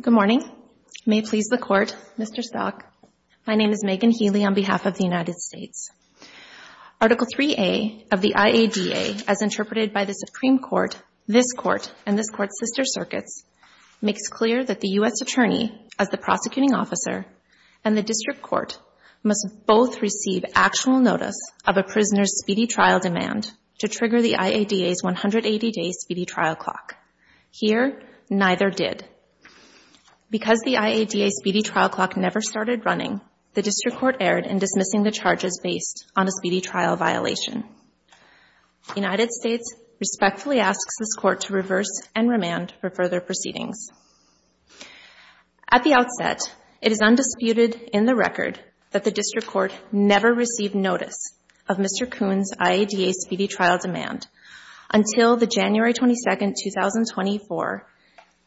Good morning. May it please the Court, Mr. Stock, my name is Megan Healy on behalf of the United States. Article 3A of the IADA, as interpreted by the Supreme Court, this Court, and this Court's sister circuits, makes clear that the U.S. attorney, as the prosecuting officer, and the district court must both receive actual notice of a prisoner's speedy trial demand to trigger the IADA's 180-day speedy trial clock. Here, neither did. Because the IADA's speedy trial clock never started running, the district court erred in dismissing the charges based on a speedy trial violation. The United States respectfully asks this Court to reverse and remand for further proceedings. At the outset, it is undisputed in the record that the district court never received notice of Mr. Koon's IADA speedy trial demand until the January 22nd, 2024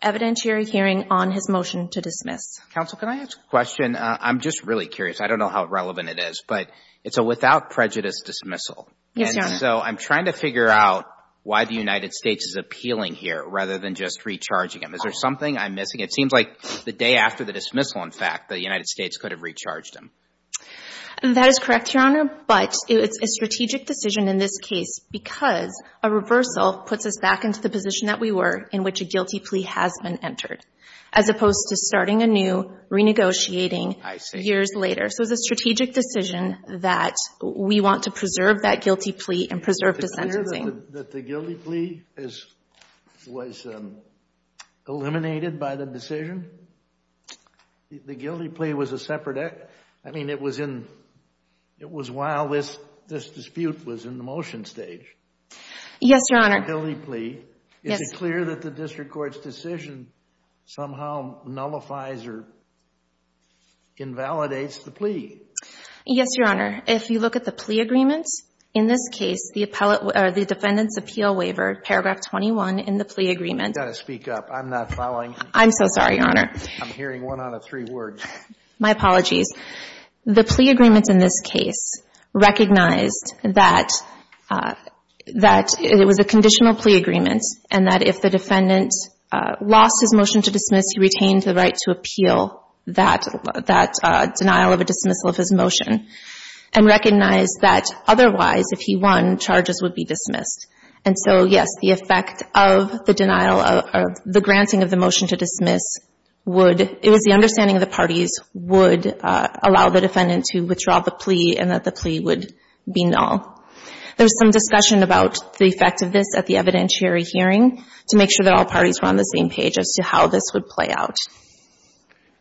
evidentiary hearing on his motion to dismiss. Counsel, can I ask a question? I'm just really curious. I don't know how relevant it is, but it's a without prejudice dismissal. Yes, Your Honor. And so I'm trying to figure out why the United States is appealing here rather than just recharging him. Is there something I'm missing? It seems like the day after the dismissal, in fact, the United States could have recharged him. That is correct, Your Honor, but it's a strategic decision in this case because a reversal puts us back into the position that we were in which a guilty plea has been entered, as opposed to starting anew, renegotiating years later. So it's a strategic decision that we want to preserve that guilty plea and preserve the sentencing. Is it clear that the guilty plea was eliminated by the decision? The guilty plea was a separate act. I mean, it was while this dispute was in the motion stage. Yes, Your Honor. It was a guilty plea. Is it clear that the district court's decision somehow nullifies or invalidates the plea? Yes, Your Honor. If you look at the plea agreements, in this case, the defendant's appeal waiver, paragraph 21 in the plea agreement. You've got to speak up. I'm not following. I'm so sorry, Your Honor. I'm hearing one out of three words. My apologies. The plea agreements in this case recognized that it was a conditional plea agreement and that if the defendant lost his motion to dismiss, he retained the right to appeal that denial of a dismissal of his motion and recognized that otherwise, if he won, charges would be dismissed. And so, yes, the effect of the denial or the granting of the motion to dismiss would — it was the understanding of the parties would allow the defendant to withdraw the plea and that the plea would be null. There's some discussion about the effect of this at the evidentiary hearing to make sure that all parties were on the same page as to how this would play out.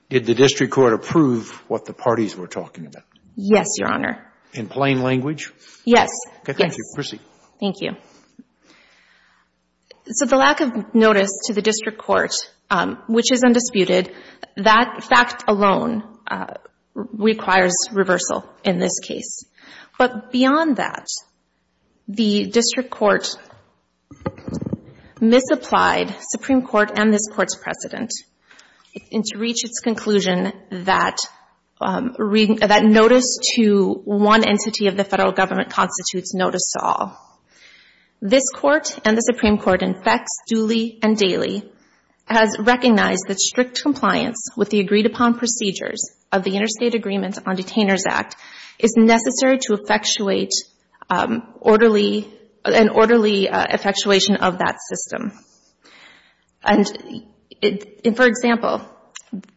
Did the district court approve what the parties were talking about? Yes, Your Honor. In plain language? Yes. Okay. Thank you. Proceed. Thank you. So the lack of notice to the district court, which is undisputed, that fact alone requires reversal in this case. But beyond that, the district court misapplied Supreme Court and this Court's precedent in to reach its conclusion that notice to one entity of the federal government constitutes notice to all. This Court and the Supreme Court in FECS, Dooley, and Daley has recognized that strict compliance with the agreed-upon procedures of the Interstate Agreement on Detainers Act is necessary to effectuate orderly, an orderly effectuation of that system. And for example,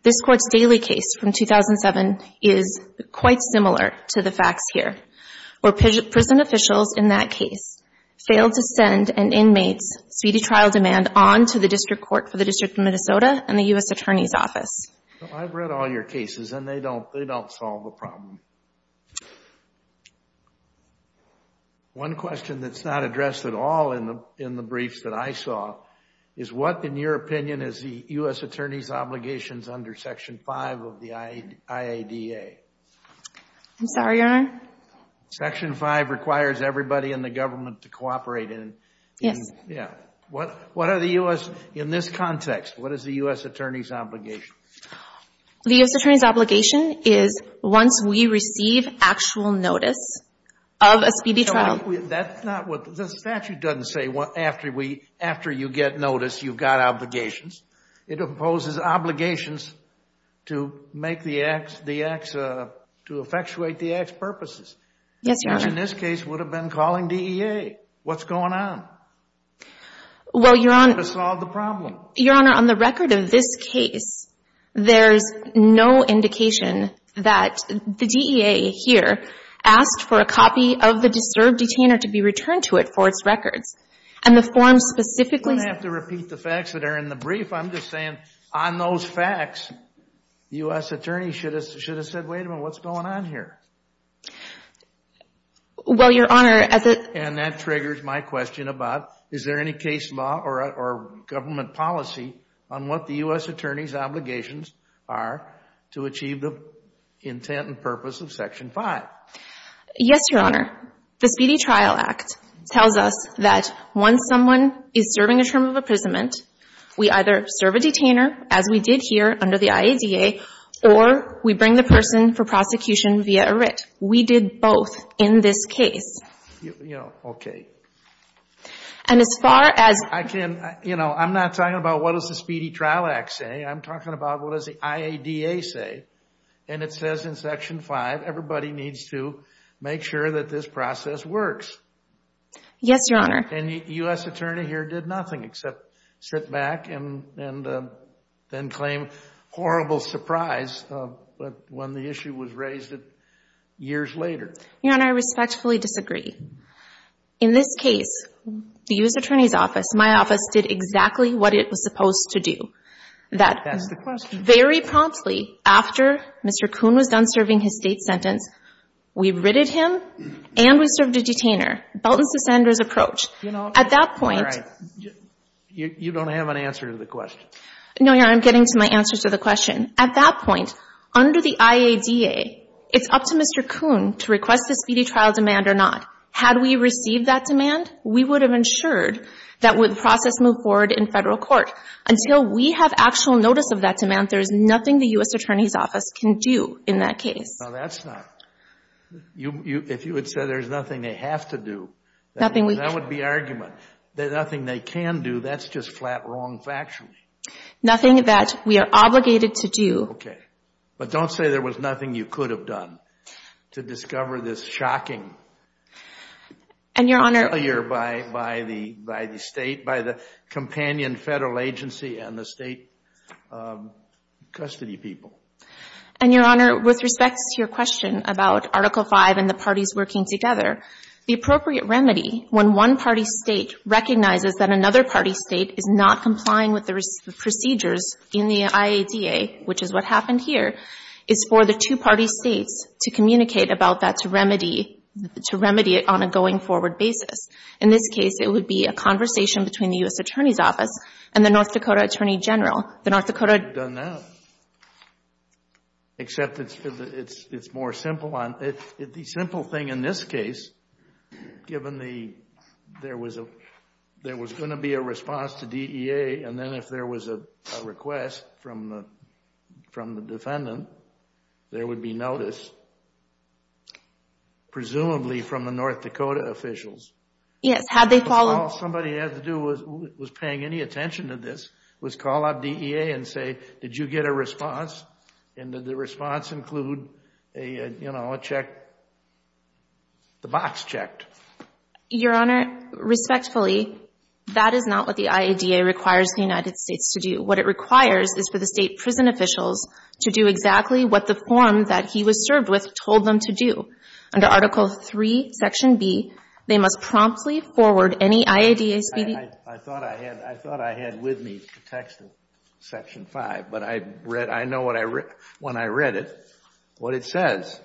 this Court's Daley case from 2007 is quite similar to the facts here, where prison officials in that case failed to send an inmate's speedy trial demand on to the district court for the District of Minnesota and the U.S. Attorney's Office. I've read all your cases and they don't solve the problem. One question that's not addressed at all in the briefs that I saw is, what, in your opinion, is the U.S. Attorney's obligations under Section 5 of the IADA? I'm sorry, Your Honor? Section 5 requires everybody in the government to cooperate in. Yes. Yeah. What are the U.S., in this context, what is the U.S. The U.S. Attorney's obligation is once we receive actual notice of a speedy trial. That's not what, the statute doesn't say after you get notice, you've got obligations. It imposes obligations to make the acts, to effectuate the act's purposes. Yes, Your Honor. Which in this case would have been calling DEA. What's going on? Well, Your Honor. To solve the problem. Your Honor, on the record of this case, there's no indication that the DEA here asked for a copy of the disturbed detainer to be returned to it for its records. And the form specifically. You don't have to repeat the facts that are in the brief. I'm just saying, on those facts, the U.S. Attorney should have said, wait a minute, what's going on here? Well, Your Honor, as a. And that triggers my question about, is there any case law or government policy on what the U.S. Attorney's obligations are to achieve the intent and purpose of Section 5? Yes, Your Honor. The Speedy Trial Act tells us that once someone is serving a term of imprisonment, we either serve a detainer, as we did here under the IADA, or we bring the person for prosecution via a writ. We did both in this case. You know, okay. And as far as. I can, you know, I'm not talking about what does the Speedy Trial Act say, I'm talking about what does the IADA say. And it says in Section 5, everybody needs to make sure that this process works. Yes, Your Honor. And the U.S. Attorney here did nothing except sit back and then claim horrible surprise when the issue was raised years later. Your Honor, I respectfully disagree. In this case, the U.S. Attorney's office, my office, did exactly what it was supposed to do. That's the question. Very promptly after Mr. Kuhn was done serving his state sentence, we writted him and we served a detainer. Belton's to Sanders' approach. At that point. All right, you don't have an answer to the question. No, Your Honor, I'm getting to my answer to the question. At that point, under the IADA, it's up to Mr. Kuhn to request the speedy trial demand or not. Had we received that demand, we would have ensured that would process move forward in federal court. Until we have actual notice of that demand, there is nothing the U.S. Attorney's office can do in that case. No, that's not. If you would say there's nothing they have to do, that would be argument. There's nothing they can do. That's just flat wrong factually. Nothing that we are obligated to do. OK, but don't say there was nothing you could have done to discover this shocking. And, Your Honor. Failure by the state, by the companion federal agency and the state custody people. And, Your Honor, with respect to your question about Article V and the parties working together, the appropriate remedy when one party state recognizes that another party state is not complying with the procedures in the IADA, which is what happened here, is for the two party states to communicate about that to remedy it on a going forward basis. In this case, it would be a conversation between the U.S. Attorney's office and the North Dakota Attorney General. The North Dakota... We've done that. Except it's more simple. The simple thing in this case, given there was going to be a response to DEA, and then if there was a request from the defendant, there would be notice. Presumably from the North Dakota officials. Yes, had they followed... Somebody had to do, was paying any attention to this, was call up DEA and say, did you get a response? And did the response include a check? The box checked. Your Honor, respectfully, that is not what the IADA requires the United States to do. What it requires is for the state prison officials to do exactly what the form that he was served with told them to do. Under Article III, Section B, they must promptly forward any IADA speedy... I thought I had with me the text of Section V, but I know when I read it, what it says.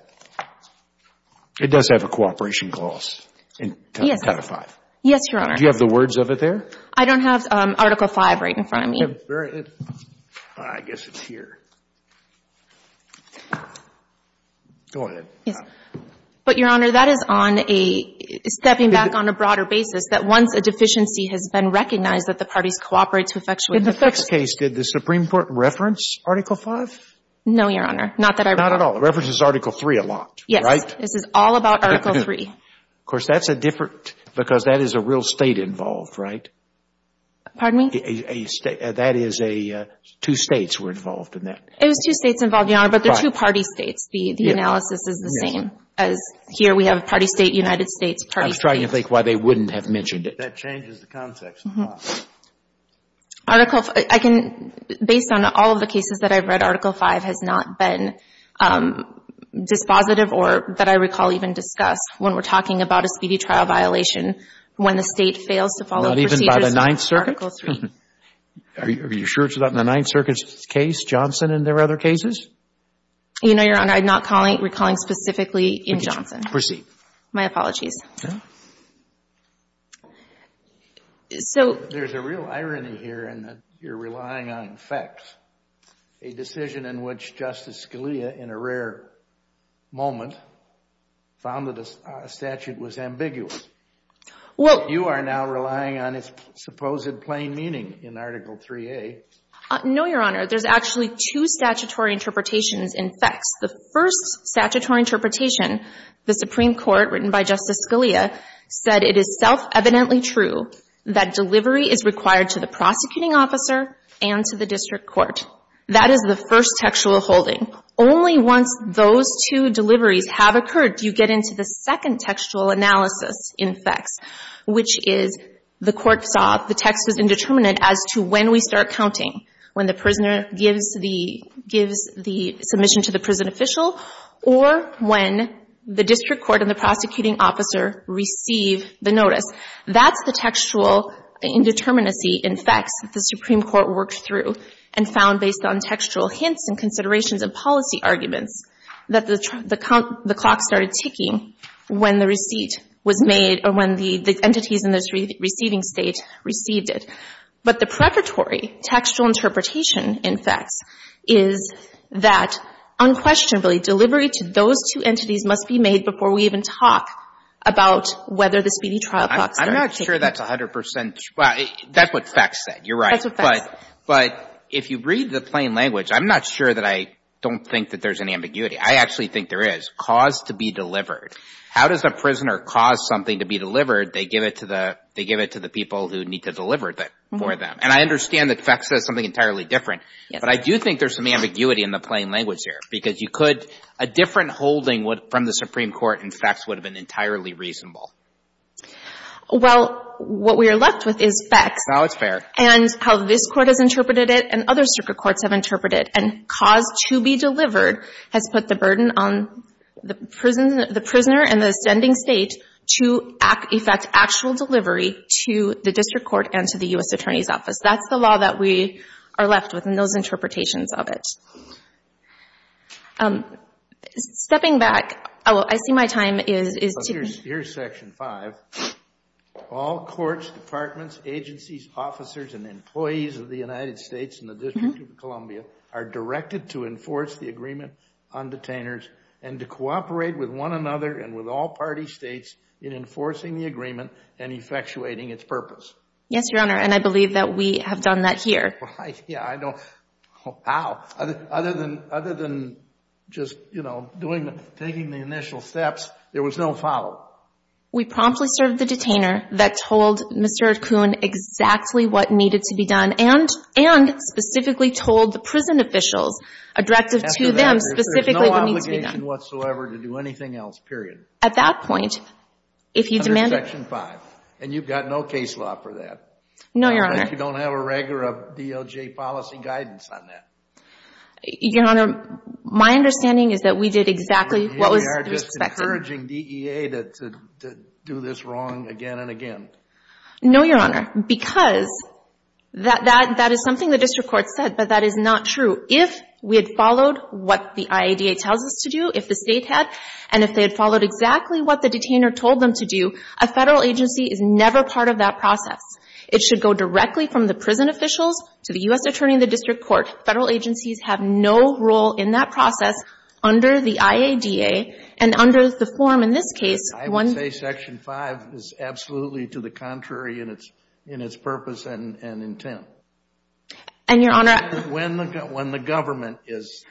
It does have a cooperation clause in Title V. Yes, Your Honor. Do you have the words of it there? I don't have Article V right in front of me. I guess it's here. Go ahead. Yes. Your Honor, that is on a stepping back on a broader basis that once a deficiency has been recognized that the parties cooperate to effectuate... In the Fick's case, did the Supreme Court reference Article V? No, Your Honor. Not that I remember. Not at all. It references Article III a lot, right? Yes. This is all about Article III. Of course, that's a different... Because that is a real state involved, right? Pardon me? That is a two states were involved in that. It was two states involved, Your Honor, but the two party states. The analysis is the same as here. We have a party state, United States, party state. I was trying to think why they wouldn't have mentioned it. That changes the context a lot. Article V, I can, based on all of the cases that I've read, Article V has not been dispositive or that I recall even discussed when we're talking about a speedy trial violation when the state fails to follow the procedures of Article III. Not even by the Ninth Circuit? Are you sure it's not in the Ninth Circuit's case, Johnson, and there are other cases? You know, Your Honor, I'm not recalling specifically in Johnson. Proceed. My apologies. There's a real irony here in that you're relying on facts. A decision in which Justice Scalia, in a rare moment, found that a statute was ambiguous. You are now relying on its supposed plain meaning in Article IIIa. No, Your Honor. There's actually two statutory interpretations in facts. The first statutory interpretation, the Supreme Court, written by Justice Scalia, said it is self-evidently true that delivery is required to the prosecuting officer and to the district court. That is the first textual holding. Only once those two deliveries have occurred do you get into the second textual analysis in facts, which is the court saw the text was indeterminate as to when we start counting, when the prisoner gives the submission to the prison official or when the district court and the prosecuting officer receive the notice. That's the textual indeterminacy in facts that the Supreme Court worked through and found based on textual hints and considerations and policy arguments that the clock started ticking when the receipt was made or when the entities in the receiving state received it. But the preparatory textual interpretation in facts is that unquestionably delivery to those two entities must be made before we even talk about whether the speedy trial clock started ticking. I'm not sure that's 100 percent true. Well, that's what facts said. You're right. That's what facts said. But if you read the plain language, I'm not sure that I don't think that there's an ambiguity. I actually think there is. Cause to be delivered. How does a prisoner cause something to be delivered? They give it to the people who need to deliver it for them. And I understand that facts says something entirely different. But I do think there's some ambiguity in the plain language here. Because you could, a different holding from the Supreme Court in facts would have been entirely reasonable. Well, what we are left with is facts. No, it's fair. And how this court has interpreted it and other circuit courts have interpreted it. And cause to be delivered has put the burden on the prisoner and the ascending state to effect actual delivery to the district court and to the U.S. Attorney's Office. That's the law that we are left with and those interpretations of it. Stepping back. Oh, I see my time is ticking. Here's section five. All courts, departments, agencies, officers, and employees of the United States and the District of Columbia are directed to enforce the agreement on detainers and to cooperate with one another and with all party states in enforcing the agreement and effectuating its purpose. Yes, Your Honor. And I believe that we have done that here. Right. Yeah, I know. How? Other than just, you know, doing, taking the initial steps, there was no follow. We promptly served the detainer that told Mr. Kuhn exactly what needed to be done. There was no obligation whatsoever to do anything else, period. At that point, if you demand... Under section five. And you've got no case law for that. No, Your Honor. I don't think you don't have a reg or a DOJ policy guidance on that. Your Honor, my understanding is that we did exactly what was expected. And you are just encouraging DEA to do this wrong again and again. No, Your Honor, because that is something the district court said, but that is not true. If we had followed what the IADA tells us to do, if the state had, and if they had followed exactly what the detainer told them to do, a Federal agency is never part of that process. It should go directly from the prison officials to the U.S. attorney in the district court. Federal agencies have no role in that process under the IADA. And under the form in this case, one... I would say section five is absolutely to the contrary in its purpose and intent. And, Your Honor... When the government is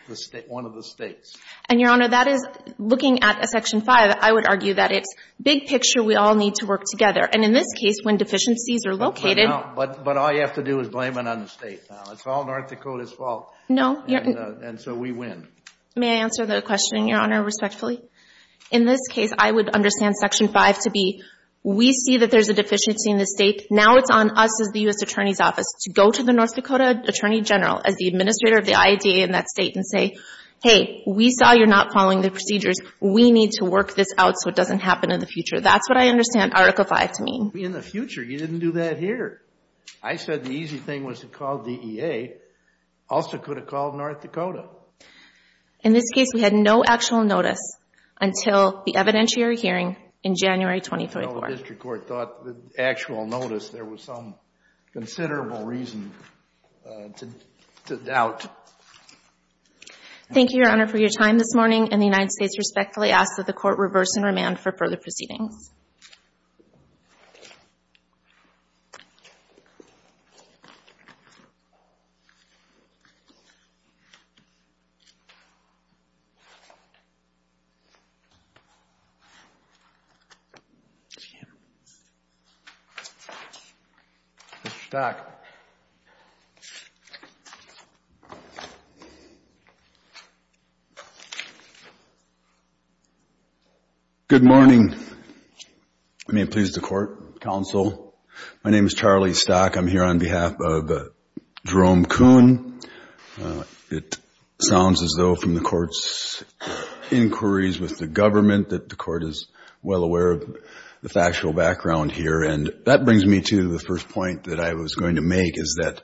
one of the states. And, Your Honor, that is looking at a section five, I would argue that it's big picture. We all need to work together. And in this case, when deficiencies are located... But all you have to do is blame it on the state now. It's all North Dakota's fault. No. And so we win. May I answer the question, Your Honor, respectfully? In this case, I would understand section five to be, we see that there's a deficiency in the state. Now it's on us as the U.S. attorney's office to go to the North Dakota attorney general as the administrator of the IADA in that state and say, hey, we saw you're not following the procedures. We need to work this out so it doesn't happen in the future. That's what I understand article five to mean. In the future, you didn't do that here. I said the easy thing was to call DEA. Also could have called North Dakota. In this case, we had no actual notice until the evidentiary hearing in January 2034. The district court thought the actual notice, there was some considerable reason to doubt. Thank you, Your Honor, for your time this morning. And the United States respectfully asks that the court reverse and remand for further proceedings. Good morning. I may please the court, counsel. My name is Charlie Stock. I'm here on behalf of Jerome Kuhn. It sounds as though from the court's inquiries with the government that the court is well aware of the factual background here. And that brings me to the first point that I was going to make is that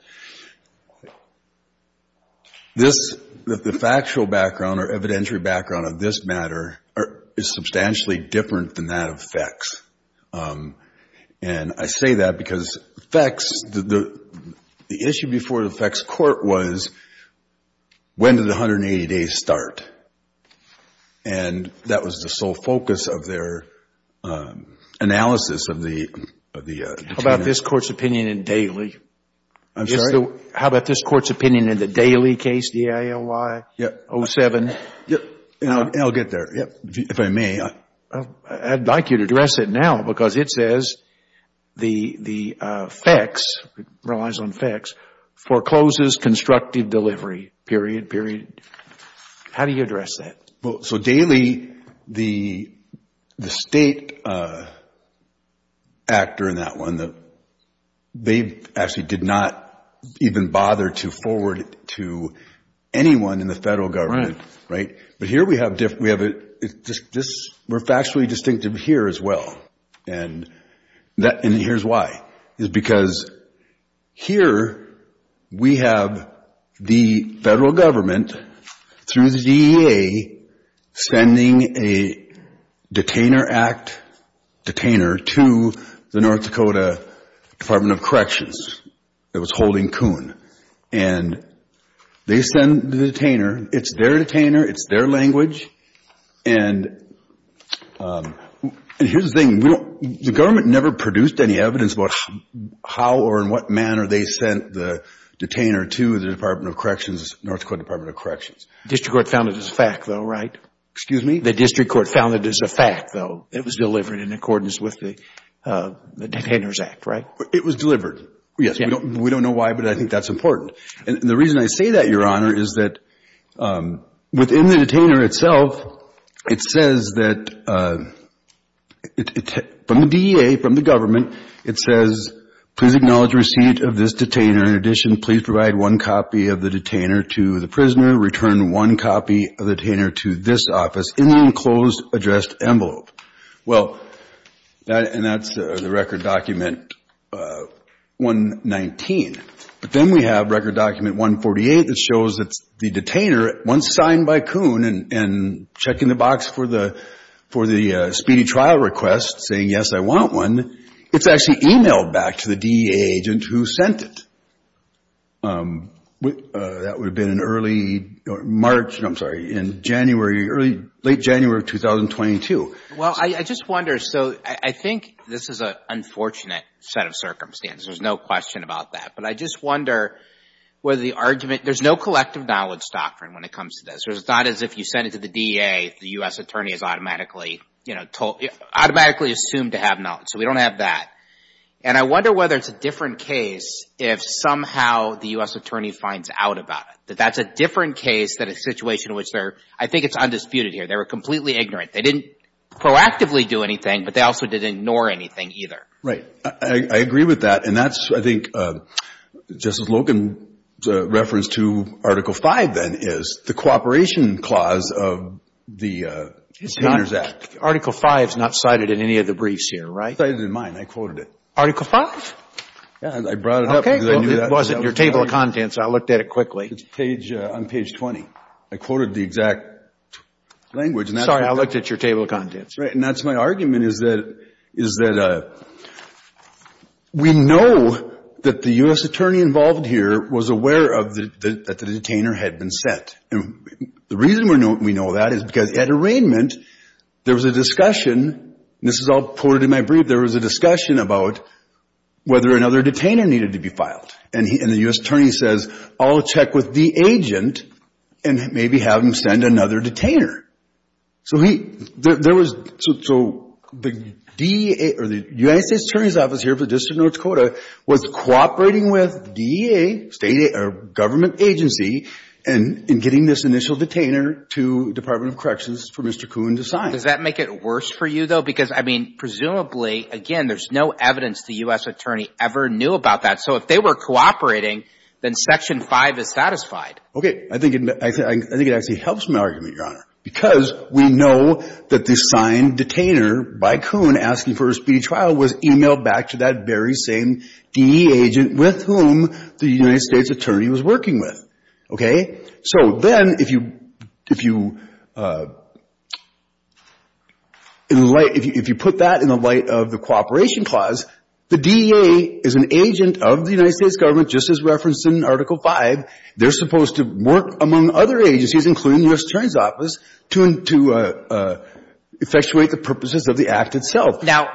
this, the factual background or evidentiary background of this matter is substantially different than that of FECS. And I say that because FECS, the issue before the FECS court was, when did the 180 days start? And that was the sole focus of their analysis of the How about this court's opinion in Daly? I'm sorry? How about this court's opinion in the Daly case, D-A-L-Y? Yeah. 07. I'll get there. If I may. I'd like you to address it now because it says the FECS, it relies on FECS, forecloses constructive delivery, period, period. How do you address that? So Daly, the state actor in that one, they actually did not even bother to forward it to anyone in the federal government, right? But here we have, we're factually distinctive here as well. And here's why, is because here we have the federal government through the DEA sending a detainer act, detainer to the North Dakota Department of Corrections that was holding the detainer. It's their detainer. It's their language. And here's the thing, the government never produced any evidence about how or in what manner they sent the detainer to the Department of Corrections, North Dakota Department of Corrections. The district court found it as a fact though, right? Excuse me? The district court found it as a fact though. It was delivered in accordance with the detainer's act, right? It was delivered. Yes. We don't know why, but I think that's important. And the reason I say that, Your Honor, is that within the detainer itself, it says that from the DEA, from the government, it says, please acknowledge receipt of this detainer. In addition, please provide one copy of the detainer to the prisoner. Return one copy of the detainer to this office in the enclosed addressed envelope. Well, and that's the record document 119. But then we have record document 148 that shows that the detainer, once signed by Coon and checking the box for the speedy trial request, saying, yes, I want one, it's actually emailed back to the DEA agent who sent it. That would have been in early March, I'm sorry, in January, late January of 2022. Well, I just wonder, so I think this is an unfortunate set of circumstances. There's no question about that. I just wonder whether the argument, there's no collective knowledge doctrine when it comes to this. It's not as if you send it to the DEA, the U.S. attorney is automatically assumed to have knowledge. So we don't have that. And I wonder whether it's a different case if somehow the U.S. attorney finds out about it, that that's a different case than a situation in which they're, I think it's undisputed here, they were completely ignorant. They didn't proactively do anything, but they also didn't ignore anything either. Right. I agree with that. And that's, I think, Justice Logan's reference to Article V then is the cooperation clause of the Penalty Act. Article V is not cited in any of the briefs here, right? It's cited in mine. I quoted it. Article V? Yeah, I brought it up because I knew that. It wasn't in your table of contents. I looked at it quickly. It's on page 20. I quoted the exact language. Sorry, I looked at your table of contents. And that's my argument is that we know that the U.S. attorney involved here was aware of that the detainer had been sent. And the reason we know that is because at arraignment, there was a discussion, and this is all quoted in my brief, there was a discussion about whether another detainer needed to be And the U.S. attorney says, I'll check with the agent and maybe have him send another detainer. So he, there was, so the DEA or the United States Attorney's Office here for the District of North Dakota was cooperating with DEA, state government agency, in getting this initial detainer to Department of Corrections for Mr. Kuhn to sign. Does that make it worse for you though? Because I mean, presumably, again, there's no evidence the U.S. attorney ever knew about that. So if they were cooperating, then Section V is satisfied. Okay. I think it actually helps my argument, Your Honor, because we know that the signed detainer by Kuhn asking for a speedy trial was emailed back to that very same DEA agent with whom the United States attorney was working with. Okay. So then if you put that in the light of the cooperation clause, the DEA is an agent of the United States government, just as referenced in Article V. They're supposed to work among other agencies, including the U.S. Attorney's Office to effectuate the purposes of the act itself. Now,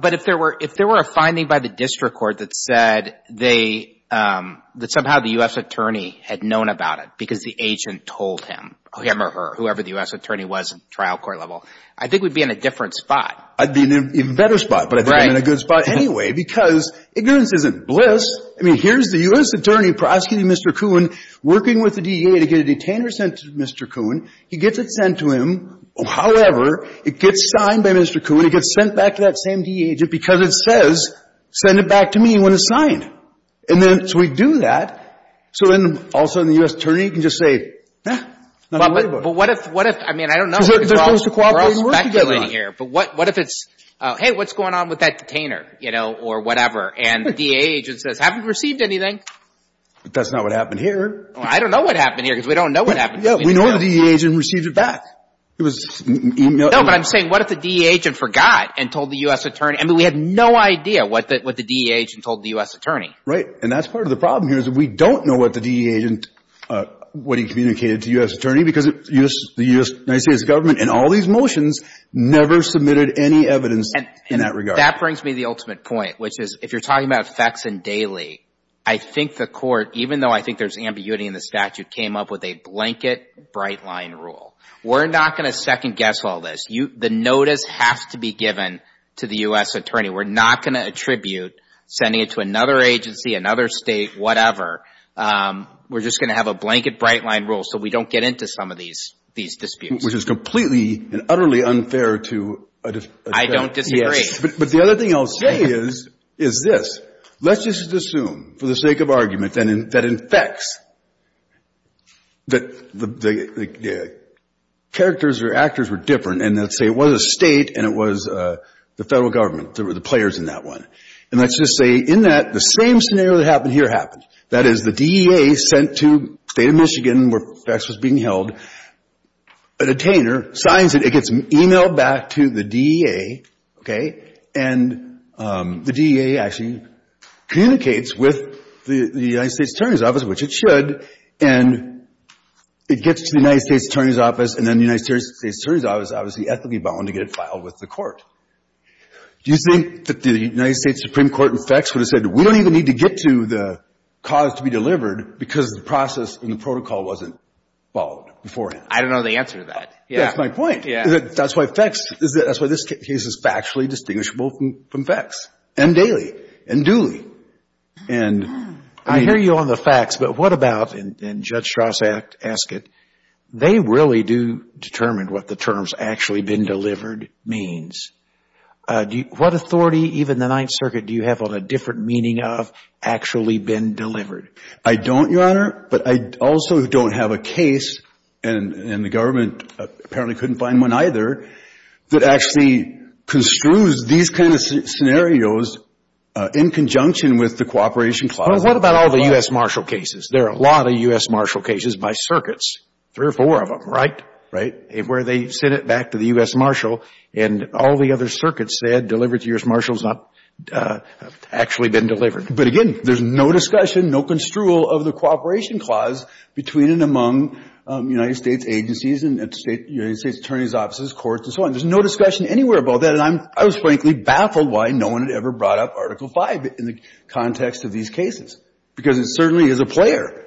but if there were a finding by the district court that said that somehow the U.S. attorney had known about it because the agent told him, him or her, whoever the U.S. attorney was in the trial court level, I think we'd be in a different spot. I'd be in an even better spot, but I think we'd be in a good spot anyway because ignorance isn't bliss. I mean, here's the U.S. attorney prosecuting Mr. Kuhn, working with the DEA to get a detainer sent to Mr. Kuhn. He gets it sent to him. However, it gets signed by Mr. Kuhn. It gets sent back to that same DEA agent because it says, send it back to me when it's And then, so we do that. So then also the U.S. attorney can just say, eh, nothing to worry about. But what if, what if, I mean, I don't know if we're all speculating here, but what if it's, hey, what's going on with that detainer, you know, or whatever, and the DEA agent says, haven't received anything? But that's not what happened here. Well, I don't know what happened here because we don't know what happened here. We know the DEA agent received it back. No, but I'm saying what if the DEA agent forgot and told the U.S. attorney, I mean, we had no idea what the DEA agent told the U.S. attorney. Right. And that's part of the problem here is that we don't know what the DEA agent, what he communicated to U.S. attorney because the U.S., the United States government in all these motions never submitted any evidence in that regard. That brings me to the ultimate point, which is, if you're talking about effects in daily, I think the court, even though I think there's ambiguity in the statute, came up with a blanket bright line rule. We're not going to second guess all this. The notice has to be given to the U.S. attorney. We're not going to attribute sending it to another agency, another state, whatever. We're just going to have a blanket bright line rule so we don't get into some of these, these disputes. Which is completely and utterly unfair to a defendant. I don't disagree. But the other thing I'll say is, is this. Let's just assume, for the sake of argument, that in FECS, that the characters or actors were different. And let's say it was a state and it was the federal government that were the players in that one. And let's just say in that, the same scenario that happened here happened. That is, the DEA sent to the state of Michigan where FECS was being held, a signs it, it gets emailed back to the DEA, okay? And the DEA actually communicates with the United States Attorney's Office, which it should. And it gets to the United States Attorney's Office and then the United States Attorney's Office is obviously ethically bound to get it filed with the court. Do you think that the United States Supreme Court in FECS would have said, we don't even need to get to the cause to be delivered because the process and the protocol wasn't followed beforehand? I don't know the answer to that. That's my point. That's why FECS, that's why this case is factually distinguishable from FECS and Daley and Dooley. And I hear you on the facts, but what about, and Judge Strauss asked it, they really do determine what the terms actually been delivered means. What authority, even the Ninth Circuit, do you have on a different meaning of actually been delivered? I don't, Your Honor, but I also don't have a case, and the government apparently couldn't find one either, that actually construes these kind of scenarios in conjunction with the cooperation clause. Well, what about all the U.S. Marshall cases? There are a lot of U.S. Marshall cases by circuits, three or four of them, right? Right. Where they send it back to the U.S. Marshall and all the other circuits said delivered to U.S. Marshall has not actually been delivered. But again, there's no discussion, no construal of the cooperation clause between and among United States agencies and United States attorneys' offices, courts, and so on. There's no discussion anywhere about that, and I was frankly baffled why no one had ever brought up Article V in the context of these cases, because it certainly is a player.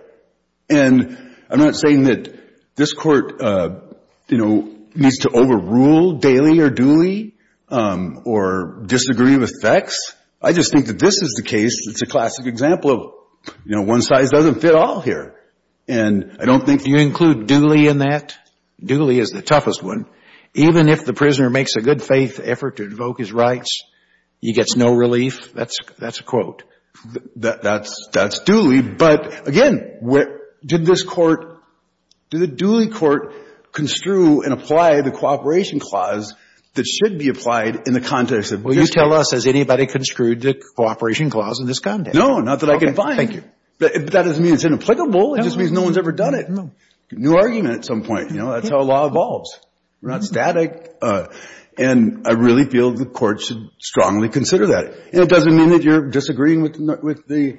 And I'm not saying that this court, you know, needs to overrule Daley or Dooley or disagree with FECS. I just think that this is the case that's a classic example of, you know, one size doesn't fit all here. And I don't think you include Dooley in that. Dooley is the toughest one. Even if the prisoner makes a good faith effort to invoke his rights, he gets no relief. That's a quote. That's Dooley. But again, did this court, did the Dooley court construe and apply the cooperation clause that should be applied in the context of this case? Can you tell us, has anybody construed the cooperation clause in this context? No, not that I can find. Thank you. But that doesn't mean it's inapplicable. It just means no one's ever done it. New argument at some point, you know. That's how law evolves. We're not static. And I really feel the court should strongly consider that. And it doesn't mean that you're disagreeing with the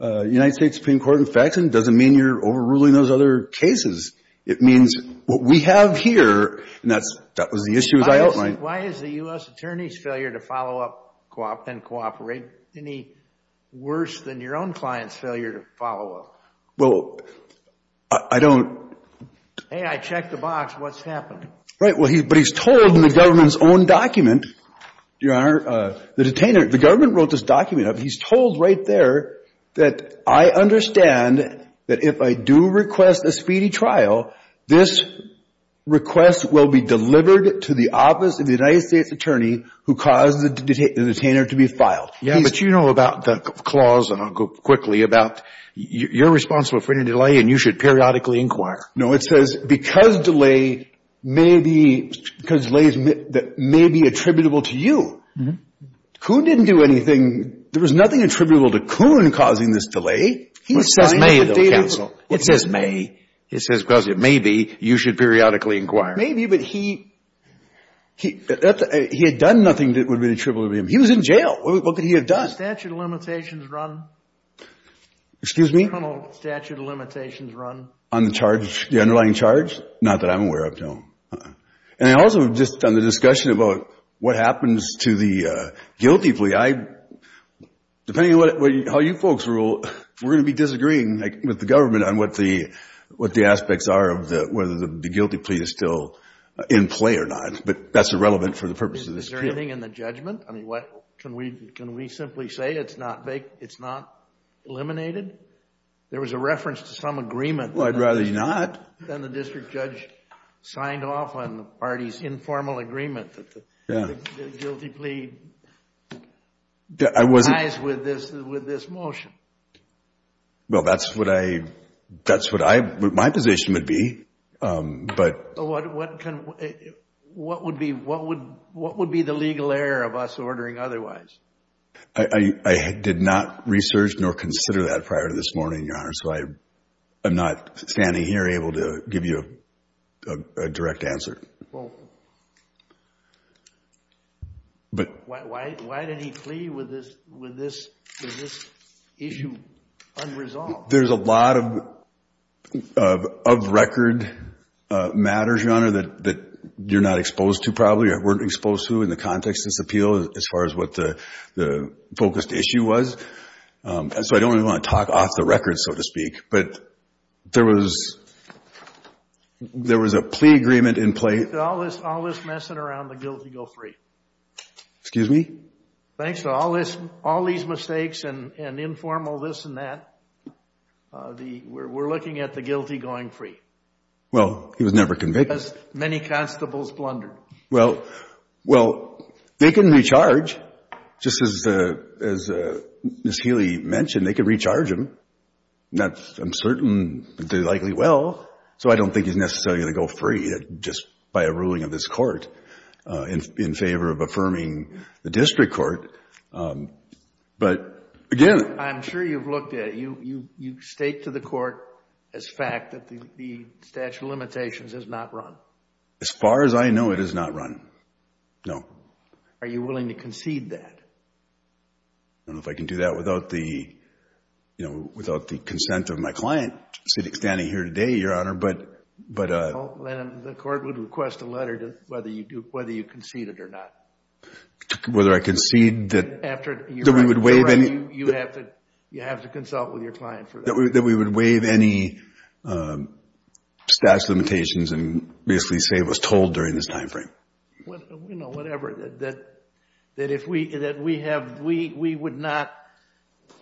United States Supreme Court and FECS, and it doesn't mean you're overruling those other cases. It means what we have here, and that was the issue as I outlined. Why is the U.S. attorney's failure to follow up and cooperate any worse than your own client's failure to follow up? Well, I don't... Hey, I checked the box. What's happened? Right. Well, but he's told in the government's own document, Your Honor, the detainer, the government wrote this document up. He's told right there that I understand that if I do request a speedy trial, this request will be delivered to the office of the United States attorney who caused the detainer to be filed. Yeah, but you know about the clause, and I'll go quickly, about you're responsible for any delay, and you should periodically inquire. No, it says because delay may be attributable to you. Coon didn't do anything. There was nothing attributable to Coon causing this delay. He signed the data. It says may. It says because it may be, you should periodically inquire. Maybe, but he had done nothing that would be attributable to him. He was in jail. What could he have done? Statute of limitations run. Excuse me? Colonel, statute of limitations run. On the charge, the underlying charge? Not that I'm aware of, no. And I also have just done the discussion about what happens to the guilty plea. Depending on how you folks rule, we're going to be disagreeing with the government on what the aspects are of whether the guilty plea is still in play or not. But that's irrelevant for the purposes of this case. Is there anything in the judgment? Can we simply say it's not eliminated? There was a reference to some agreement. I'd rather you not. Then the district judge signed off on the party's informal agreement that the guilty plea ties with this motion. Well, that's what I, that's what I, my position would be, but. What, what can, what would be, what would, what would be the legal error of us ordering otherwise? I, I did not research nor consider that prior to this morning, Your Honor. So I, I'm not standing here able to give you a, a direct answer. Well, why, why, why did he plea with this, with this, with this issue? Unresolved. There's a lot of, of, of record matters, Your Honor, that, that you're not exposed to, probably, or weren't exposed to in the context of this appeal as far as what the, the focused issue was. And so I don't even want to talk off the record, so to speak. But there was, there was a plea agreement in place. Thanks to all this, all this messing around the guilty go free. Excuse me? Thanks to all this, all these mistakes and, and informal this and that, the, we're, we're looking at the guilty going free. Well, he was never convicted. Because many constables blundered. Well, well, they can recharge, just as, as Ms. Healy mentioned, they can recharge him. That's, I'm certain, they likely will. So I don't think he's necessarily going to go free just by a ruling of this court in, in favor of affirming the district court. But again. I'm sure you've looked at it. You, you, you state to the court as fact that the statute of limitations has not run. As far as I know, it has not run. No. Are you willing to concede that? I don't know if I can do that without the, you know, without the consent of my client sitting, standing here today, Your Honor. But, but. The court would request a letter to, whether you do, whether you concede it or not. Whether I concede that. After, Your Honor. That we would waive any. You have to, you have to consult with your client for that. That we would waive any, statute of limitations and basically say it was told during this time frame. You know, whatever, that, that, that if we, that we have, we, we would not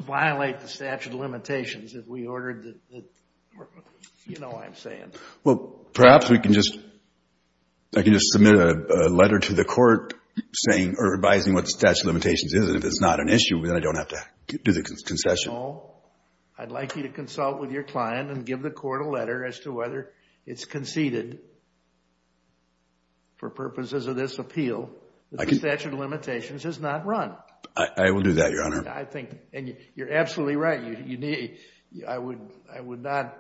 violate the statute of limitations if we ordered the, the, you know what I'm saying. Well, perhaps we can just, I can just submit a letter to the court saying, or advising what the statute of limitations is. If it's not an issue, then I don't have to do the concession. No. I'd like you to consult with your client and give the court a letter as to whether it's conceded for purposes of this appeal. I can. The statute of limitations has not run. I will do that, Your Honor. I think, and you're absolutely right. You need, I would, I would not,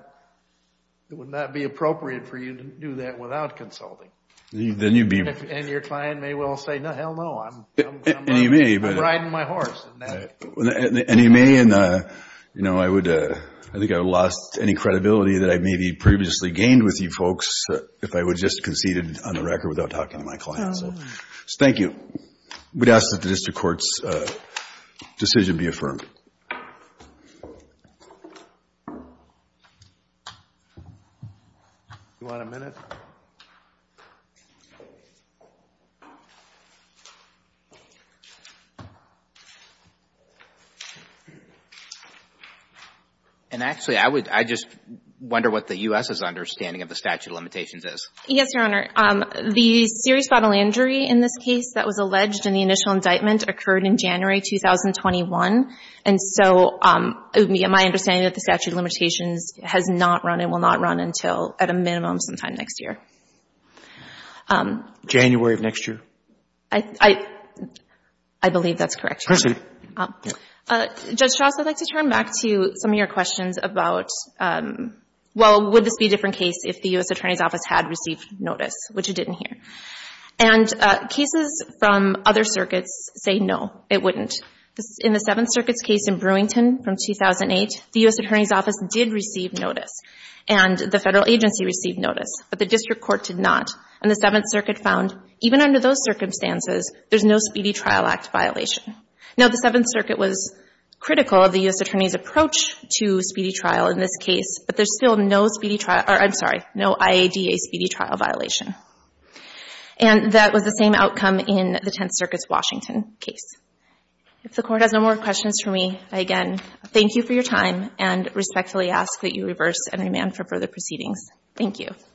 it would not be appropriate for you to do that without consulting. Then you'd be. And your client may well say, no, hell no, I'm riding my horse. And he may, and you know, I would, I think I lost any credibility that I may be previously gained with you folks if I would just conceded on the record without talking to my client. So, thank you. We'd ask that the district court's decision be affirmed. Do you want a minute? And actually, I would, I just wonder what the U.S.'s understanding of the statute of limitations is. Yes, Your Honor. The serious bodily injury in this case that was alleged in the initial indictment occurred in January 2021. And so, my understanding of the statute of limitations has not run and will not run until at a minimum sometime next year. January of next year? I, I, I believe that's correct, Your Honor. Thank you. Judge Strauss, I'd like to turn back to some of your questions about, well, would this be a different case if the U.S. Attorney's Office had received notice, which it didn't hear? And cases from other circuits say no, it wouldn't. In the Seventh Circuit's case in Brewington from 2008, the U.S. Attorney's Office did receive notice, and the federal agency received notice, but the district court did not. And the Seventh Circuit found, even under those circumstances, there's no Speedy Trial Act violation. Now, the Seventh Circuit was critical of the U.S. Attorney's approach to speedy trial in this case, but there's still no speedy trial, or I'm sorry, no IADA speedy trial violation. And that was the same outcome in the Tenth Circuit's Washington case. If the Court has no more questions for me, I again thank you for your time and respectfully ask that you reverse and remand for further proceedings. Thank you. Thank you.